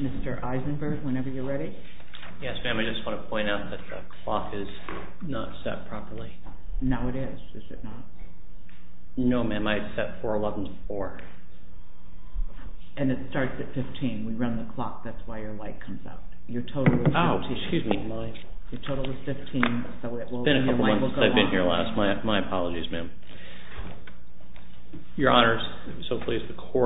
Mr. Eisenberg, whenever you're ready. Yes, ma'am. I just want to point out that the clock is not set properly. No, it is. Is it not? No, ma'am. I set 4-11-4. And it starts at 15. We run the clock. That's why your light comes out. Your total is 15. Oh, excuse me. Your total is 15. It's been a couple months since I've been here last. Yes, ma'am. I just want to point out that the clock is not set properly. No, it is. Is it not? No, ma'am.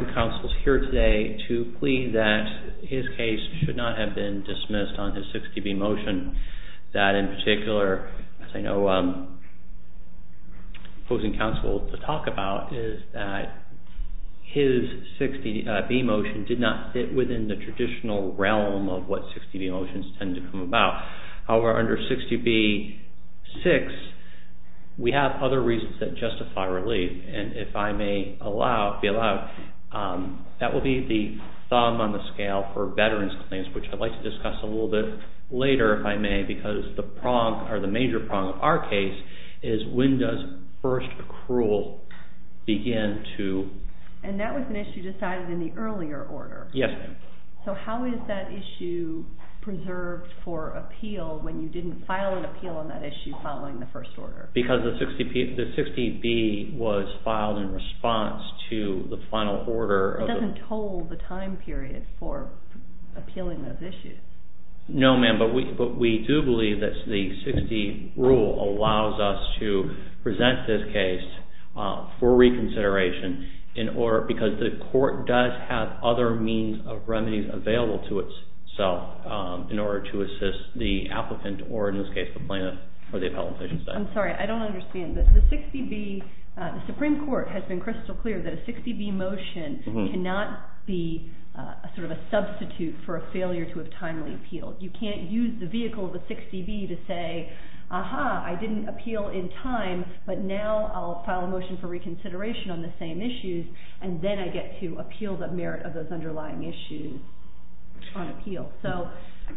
I'm here to plead that his case should not have been dismissed on his 60B motion. That in particular, as I know opposing counsel to talk about is that his 60B motion did not fit within the traditional realm of what 60B motions tend to come about. However, under 60B-6, we have other reasons that justify relief. And if I may be allowed, that will be the thumb on the scale for veterans' claims, which I'd like to discuss a little bit later, if I may, because the prong or the major prong of our case is when does first accrual begin to... And that was an issue decided in the earlier order. Yes, ma'am. So how is that issue preserved for appeal when you didn't file an appeal on that issue following the first order? Because the 60B was filed in response to the final order. It doesn't toll the time period for appealing those issues. No, ma'am. But we do believe that the 60 rule allows us to present this case for reconsideration in order... Because the court does have other means of remedies available to itself in order to assist the applicant or, in this case, the plaintiff or the appellant, as you said. I'm sorry. I don't understand. The 60B... The Supreme Court has been crystal clear that a 60B motion cannot be sort of a substitute for a failure to have timely appealed. You can't use the vehicle of the 60B to say, aha, I didn't appeal in time, but now I'll file a motion for reconsideration on the same issues, and then I get to appeal the merit of those underlying issues on appeal. So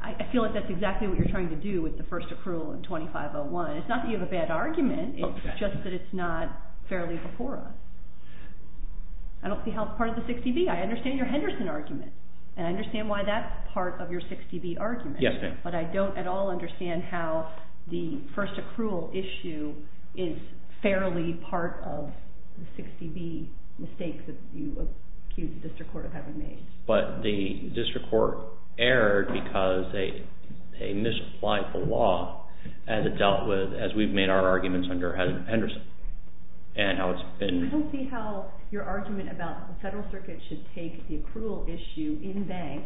I feel like that's exactly what you're trying to do with the first accrual in 2501. It's not that you have a bad argument, it's just that it's not fairly before us. I don't see how it's part of the 60B. I understand your Henderson argument, and I understand why that's part of your 60B argument. Yes, ma'am. But I don't at all understand how the first accrual issue is fairly part of the 60B mistake that you accuse the District Court of having made. But the District Court erred because they misapplied the law as it dealt with, as we've made our arguments under Henderson. And how it's been... I don't see how your argument about the Federal Circuit should take the accrual issue in bank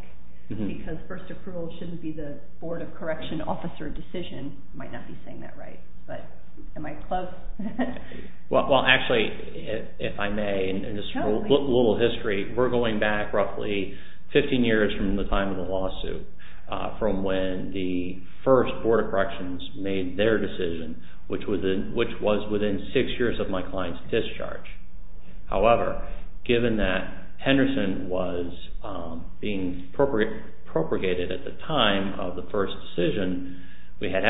because first accrual shouldn't be the Board of Correction officer decision might not be saying that right, but am I close? Well, actually, if I may, in this little history, we're going back roughly 15 years from the time of the lawsuit, from when the first Board of Corrections made their decision, which was within six years of my client's discharge. However, given that Henderson was being propagated at the time of the first decision, we had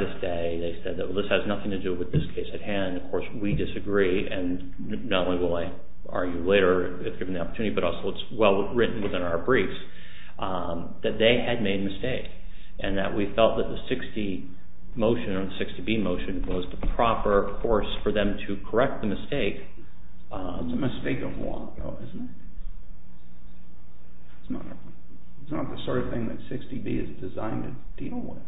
this day, they said that this has nothing to do with this case at hand, of course we disagree and not only will I argue later if given the opportunity, but also it's well written within our briefs, that they had made a mistake and that we felt that the 60 motion or the 60B motion was the proper course for them to correct the mistake. It's a mistake of law though, isn't it? It's not the sort of thing that 60B is designed to deal with.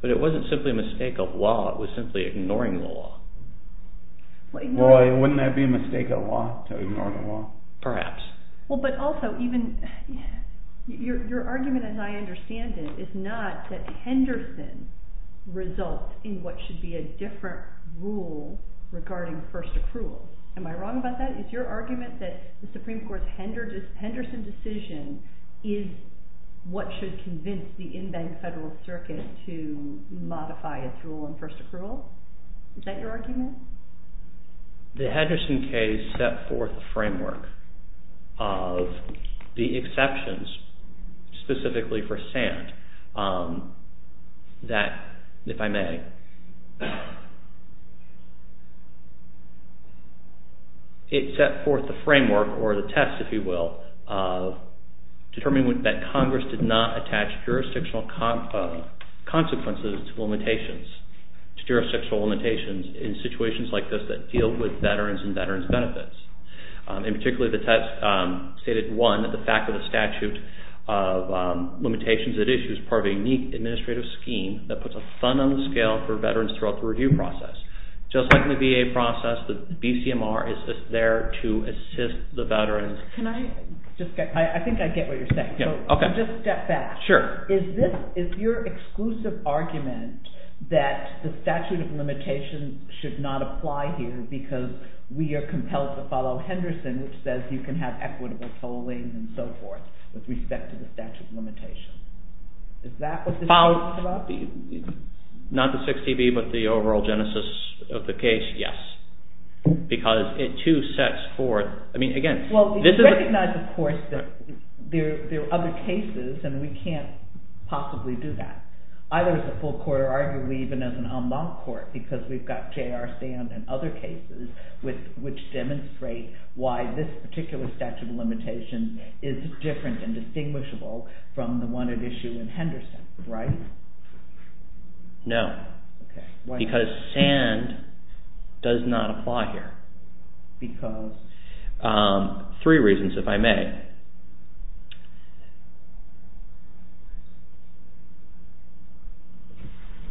But it wasn't simply a mistake of law, it was simply ignoring the law. Well, wouldn't that be a mistake of law to ignore the law? Perhaps. Well, but also even, your argument as I understand it is not that Henderson results in what should be a different rule regarding first accrual. Am I wrong about that? Is your argument that the Supreme Court's Henderson decision is what should convince the in-bank federal circuit to modify its rule on first accrual? Is that your argument? The Hedgeson case set forth a framework of the exceptions, specifically for Sand, that if I may, it set forth the framework or the test, if you will, of determining that Congress did not attach jurisdictional consequences to limitations, to jurisdictional limitations in situations like this that deal with veterans and veterans' benefits. In particular, the test stated one, that the fact of the statute of limitations that issues part of a unique administrative scheme that puts a fund on the scale for veterans throughout the review process. Just like in the VA process, the BCMR is there to assist the veterans. Can I just, I think I get what you're saying. Just step back. Sure. Is this, is your exclusive argument that the statute of limitations should not apply here because we are compelled to follow Henderson, which says you can have equitable tolling and so forth, with respect to the statute of limitations? Is that what this case is about? Not the 6TB, but the overall genesis of the case, yes. Because it too sets forth, I mean, again, this is... There are other cases and we can't possibly do that, either as a full court or arguably even as an en banc court because we've got J.R. Sand and other cases which demonstrate why this particular statute of limitations is different and distinguishable from the one at issue in Henderson, right? No. Okay. Why not? Because Sand does not apply here. Because? Three reasons, if I may.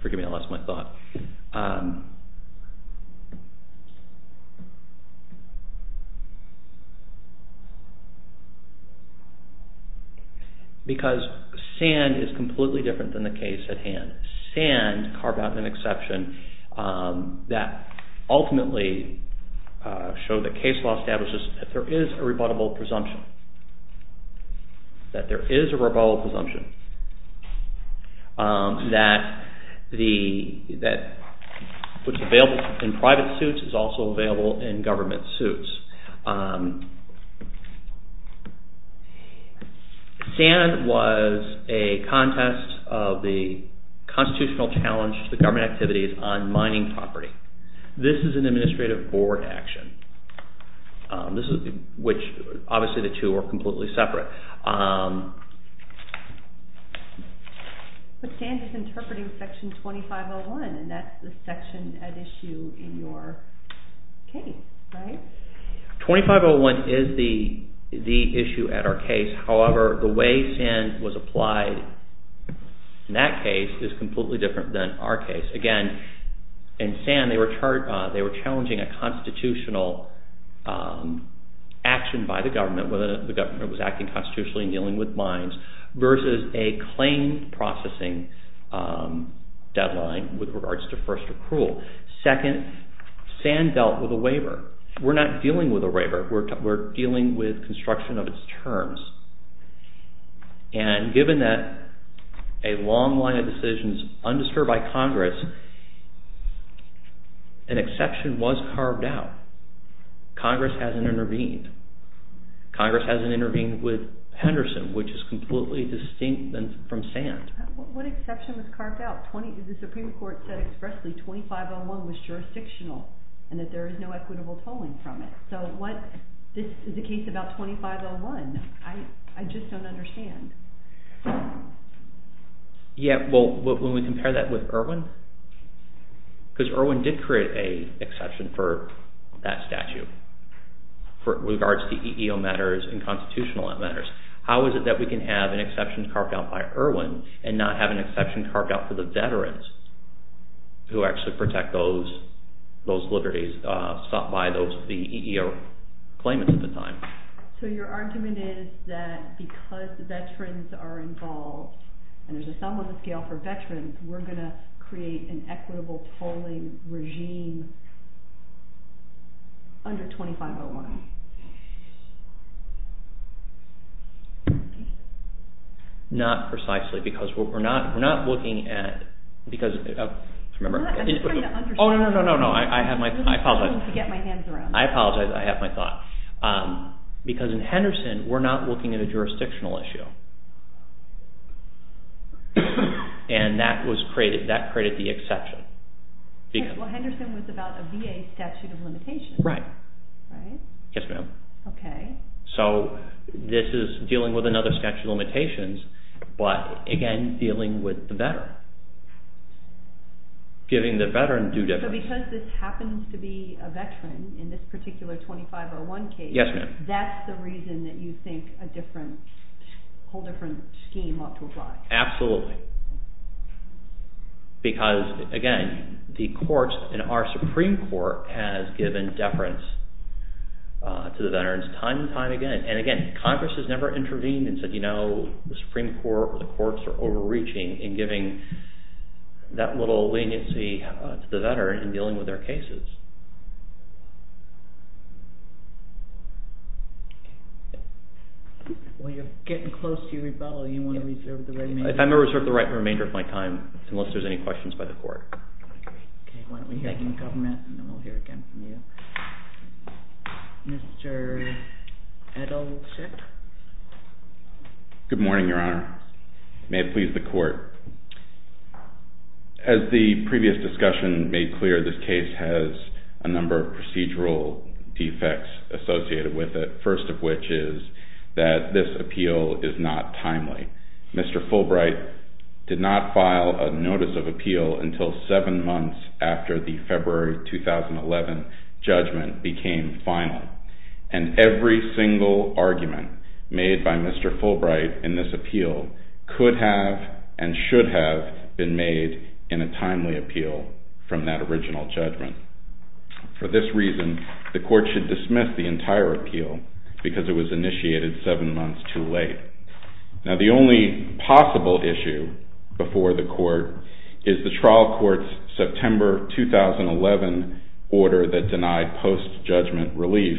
Forgive me, I lost my thought. Because Sand is completely different than the case at hand. Sand carved out an exception that ultimately showed that case law establishes that there is a rebuttable presumption, that there is a rebuttable presumption, that what's available in private suits is also available in government suits. Sand was a contest of the constitutional challenge to the government activities on mining property. This is an administrative board action, which obviously the two are completely separate. But Sand is interpreting Section 2501 and that's the section at issue in your case, right? 2501 is the issue at our case. However, the way Sand was applied in that case is completely different than our case. Again, in Sand they were challenging a constitutional action by the government, whether the government was acting constitutionally and dealing with mines versus a claim processing deadline with regards to first accrual. Second, Sand dealt with a waiver. We're not dealing with a waiver. We're dealing with construction of its terms. And given that a long line of decisions undisturbed by Congress, an exception was carved out. Congress hasn't intervened. Congress hasn't intervened with Henderson, which is completely distinct from Sand. What exception was carved out? The Supreme Court said expressly 2501 was jurisdictional and that there is no equitable tolling from it. So this is a case about 2501. I just don't understand. When we compare that with Irwin, because Irwin did create an exception for that statute with regards to EEO matters and constitutional matters. How is it that we can have an exception carved out by Irwin and not have an exception carved out for the veterans who actually protect those liberties sought by the EEO claimants at the time? So your argument is that because veterans are involved, and there's a sum on the scale for veterans, we're going to create an equitable tolling regime under 2501? Not precisely, because we're not looking at... I'm just trying to understand. Oh, no, no, no. I apologize. I'm just trying to get my hands around this. I apologize. I have my thought. Because in Henderson, we're not looking at a jurisdictional issue. And that created the exception. Well, Henderson was about a VA statute of limitations. Right. Yes, ma'am. Okay. So this is dealing with another statute of limitations, but again, dealing with the veteran. Giving the veteran due difference. So because this happens to be a veteran in this particular 2501 case... Yes, ma'am. That's the reason that you think a whole different scheme ought to apply? Absolutely. Because, again, the courts and our Supreme Court has given deference to the veterans time and time again. And again, Congress has never intervened and said, you know, the Supreme Court or the courts are overreaching in giving that little leniency to the veteran in dealing with their cases. Well, you're getting close to your rebellion. You want to reserve the remaining... I'm going to reserve the remainder of my time, unless there's any questions by the court. Okay. Why don't we hear from the government, and then we'll hear again from you. Mr. Adolczyk? Good morning, Your Honor. May it please the court. As the previous discussion made clear, this case has a number of procedural defects associated with it. First of which is that this appeal is not timely. Mr. Fulbright did not file a notice of appeal until seven months after the February 2011 judgment became final. And every single argument made by Mr. Fulbright in this appeal could have and should have been made in a timely appeal from that original judgment. For this reason, the court should dismiss the entire appeal because it was initiated seven months too late. Now, the only possible issue before the court is the trial court's September 2011 order that denied post-judgment relief.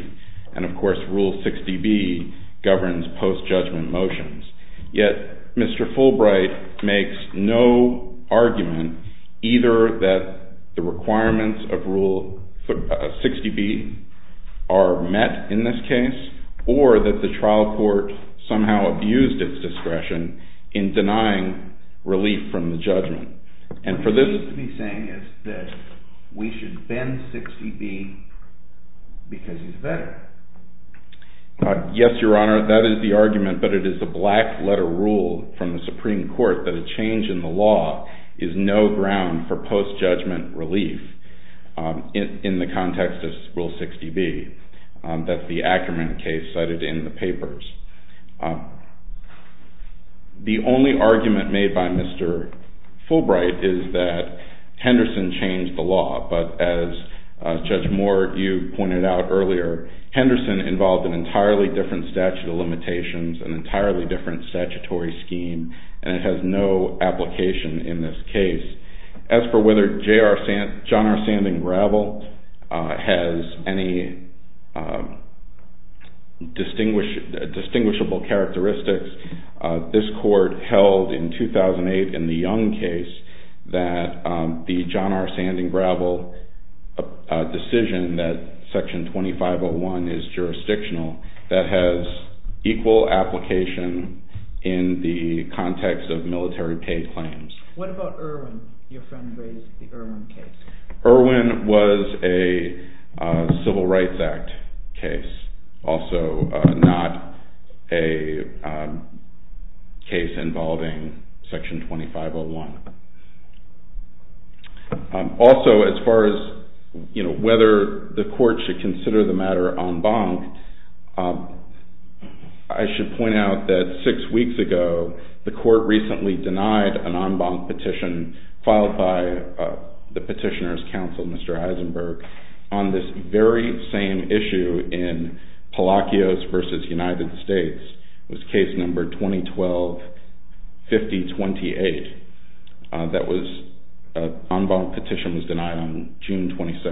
And, of course, Rule 60B governs post-judgment motions. Yet, Mr. Fulbright makes no argument either that the requirements of Rule 60B are met in this case or that the trial court somehow abused its discretion in denying relief from the judgment. And for this... What he's saying is that we should bend 60B because he's better. Yes, Your Honor, that is the argument, but it is a black-letter rule from the Supreme Court that a change in the law is no ground for post-judgment relief in the context of Rule 60B. That's the Ackerman case cited in the papers. The only argument made by Mr. Fulbright is that Henderson changed the law, but as Judge Moore, you pointed out earlier, Henderson involved an entirely different statute of limitations, an entirely different statutory scheme, and it has no application in this case. As for whether John R. Sanding Gravel has any distinguishable characteristics, this court held in 2008 in the Young case that the John R. Sanding Gravel decision that Section 2501 is jurisdictional, that has equal application in the context of military pay claims. What about Irwin? Your friend raised the Irwin case. Irwin was a Civil Rights Act case, also not a case involving Section 2501. Also, as far as whether the court should consider the matter en banc, I should point out that six weeks ago, the court recently denied an en banc petition filed by the Petitioner's Council, Mr. Heisenberg, on this very same issue in Palacios v. United States. It was case number 2012-5028. The en banc petition was denied on June 22,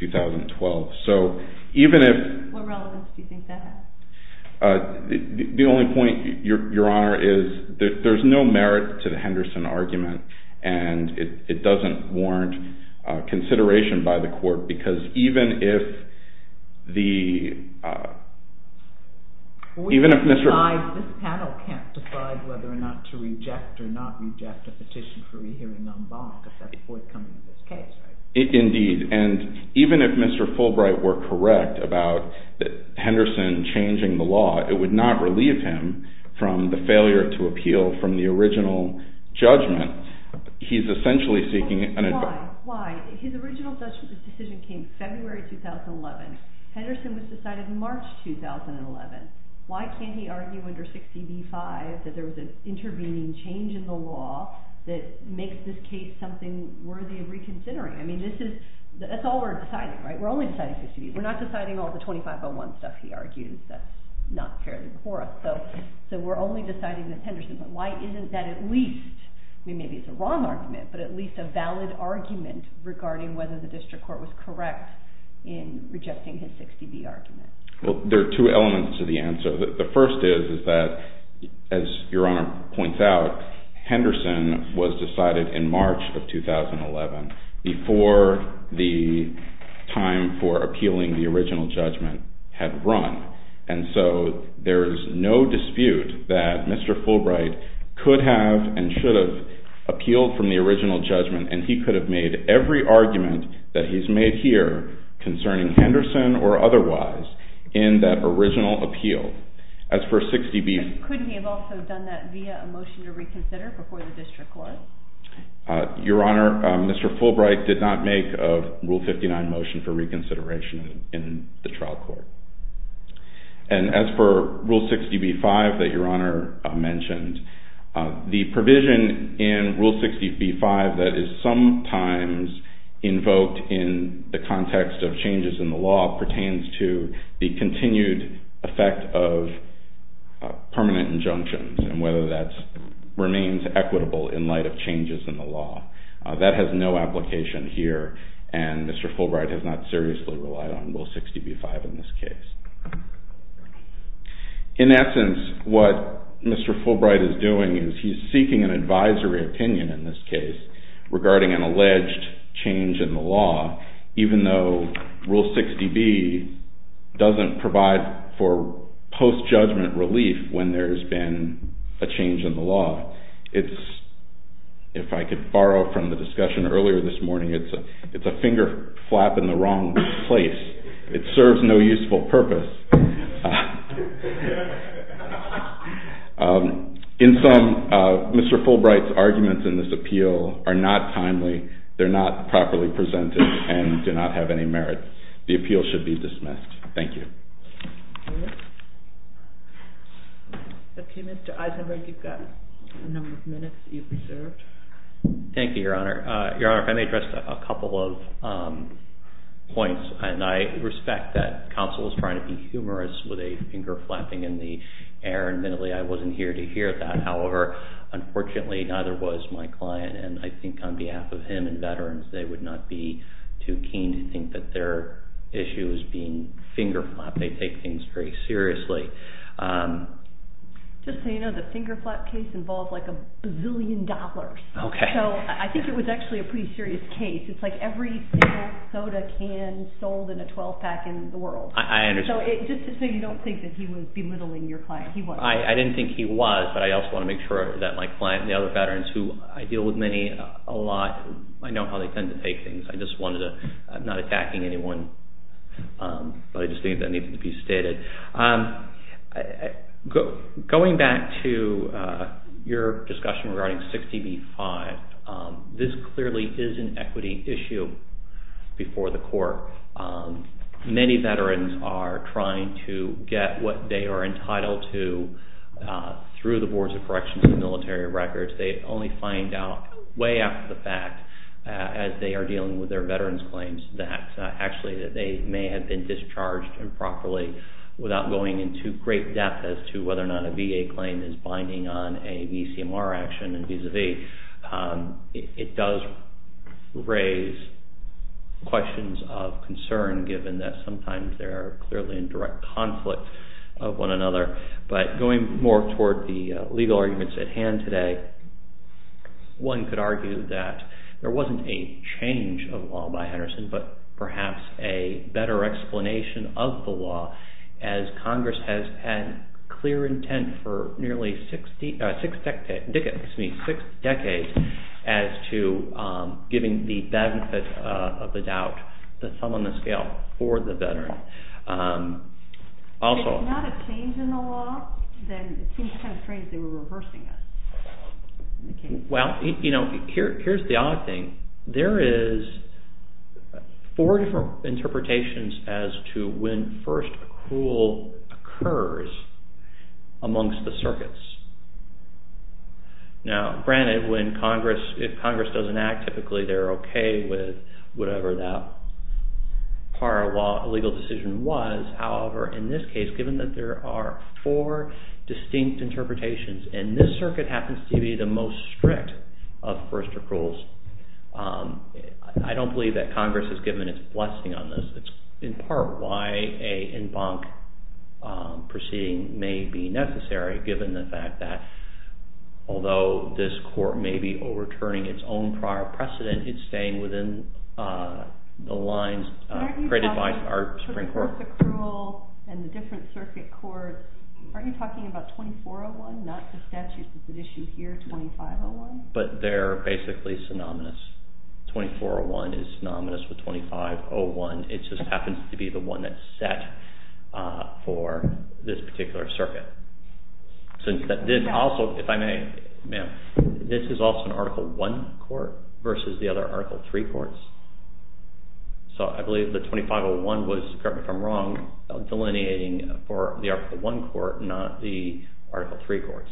2012. What relevance do you think that has? The only point, Your Honor, is that there's no merit to the Henderson argument and it doesn't warrant consideration by the court because even if the... This panel can't decide whether or not to reject or not reject a petition for rehearing en banc because that's forthcoming in this case, right? Indeed. And even if Mr. Fulbright were correct about Henderson changing the law, it would not relieve him from the failure to appeal from the original judgment. He's essentially seeking an en banc... Why? Why? His original decision came February 2011. Henderson was decided in March 2011. Why can't he argue under 60b-5 that there was an intervening change in the law that makes this case something worthy of reconsidering? I mean, this is... That's all we're deciding, right? We're only deciding 60b. We're not deciding all the 2501 stuff he argues that's not fairly core. So we're only deciding this Henderson. But why isn't that at least... I mean, maybe it's a wrong argument, but at least a valid argument regarding whether the district court was correct in rejecting his 60b argument? Well, there are two elements to the answer. The first is that, as Your Honor points out, Henderson was decided in March of 2011 before the time for appealing the original judgment had run. And so there's no dispute that Mr. Fulbright could have and should have appealed from the original judgment, and he could have made every argument that he's made here concerning Henderson or otherwise in that original appeal. As for 60b... And could he have also done that via a motion to reconsider before the district court? Your Honor, Mr. Fulbright did not make a Rule 59 motion for reconsideration in the trial court. And as for Rule 60b-5 that Your Honor mentioned, the provision in Rule 60b-5 that is sometimes invoked in the context of changes in the law pertains to the continued effect of permanent injunctions and whether that remains equitable in light of changes in the law. That has no application here, and Mr. Fulbright has not seriously relied on Rule 60b-5 in this case. In essence, what Mr. Fulbright is doing is he's seeking an advisory opinion in this case regarding an alleged change in the law, even though Rule 60b doesn't provide for post-judgment relief when there's been a change in the law. If I could borrow from the discussion earlier this morning, it's a finger flap in the wrong place. It serves no useful purpose. In sum, Mr. Fulbright's arguments in this appeal are not timely, they're not properly presented, and do not have any merit. The appeal should be dismissed. Thank you. Thank you, Your Honor. Your Honor, if I may address a couple of points. I respect that counsel is trying to be humorous with a finger flapping in the air. Admittedly, I wasn't here to hear that. However, unfortunately, neither was my client. I think on behalf of him and veterans, they would not be too keen to think that their issue is being finger flapped. They take things very seriously. Just so you know, the finger flap case involved like a bazillion dollars. I think it was actually a pretty serious case. It's like every single soda can sold in a 12-pack in the world. I understand. Just so you don't think he was belittling your client. I didn't think he was, but I also want to make sure that my client and the other veterans who I deal with many a lot, I know how they tend to take things. I'm not attacking anyone, but I just think that needs to be stated. Going back to your discussion regarding 60 v. 5, this clearly is an equity issue before the court. Many veterans are trying to get what they are entitled to through the Boards of Corrections and military records. They only find out way after the fact as they are dealing with their veterans' claims that actually they may have been discharged improperly without going into great depth as to whether or not a VA claim is binding on a VCMR action and vis-a-vis. It does raise questions of concern given that sometimes they are clearly in direct conflict of one another. Going more toward the legal arguments at hand today, one could argue that there wasn't a change of law by Henderson but perhaps a better explanation of the law as Congress has had clear intent for nearly six decades as to giving the benefit of the doubt the thumb on the scale for the veteran. If there's not a change in the law, then it seems kind of strange they were reversing it. Well, here's the odd thing. There is four different interpretations as to when first accrual occurs amongst the circuits. Now, granted, if Congress doesn't act, typically they're okay with whatever that prior legal decision was. However, in this case, given that there are four distinct interpretations, and this circuit happens to be the most strict of first accruals, I don't believe that Congress has given its blessing on this. It's in part why an en banc proceeding may be necessary given the fact that, although this court may be overturning its own prior precedent, it's staying within the lines created by our Supreme Court. But they're basically synonymous. 2401 is synonymous with 2501. It just happens to be the one that's set for this particular circuit. This is also an Article I court versus the other Article III courts. So I believe the 2501 was, correct me if I'm wrong, delineating for the Article I court, not the Article III courts.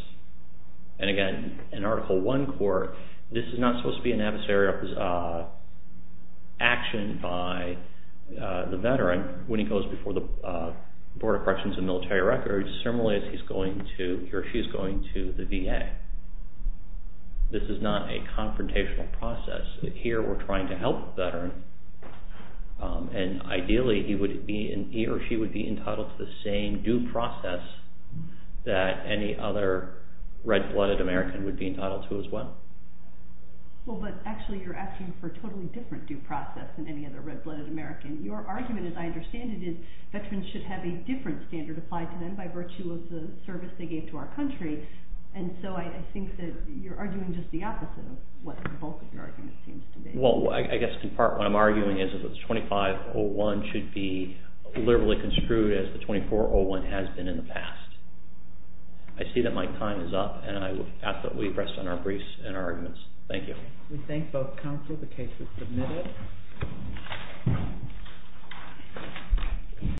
And again, in Article I court, this is not supposed to be an adversarial action by the veteran when he goes before the Board of Corrections and Military Records, as similarly as he or she is going to the VA. This is not a confrontational process. Here, we're trying to help the veteran, and ideally, he or she would be entitled to the same due process that any other red-blooded American would be entitled to as well. Well, but actually you're asking for a totally different due process than any other red-blooded American. Your argument, as I understand it, is that veterans should have a different standard applied to them by virtue of the service they gave to our country. And so I think that you're arguing just the opposite of what the bulk of your argument seems to be. Well, I guess in part what I'm arguing is that the 2501 should be liberally construed as the 2401 has been in the past. I see that my time is up, and I would ask that we rest on our briefs and our arguments. Thank you. We thank both counsel. The case is submitted.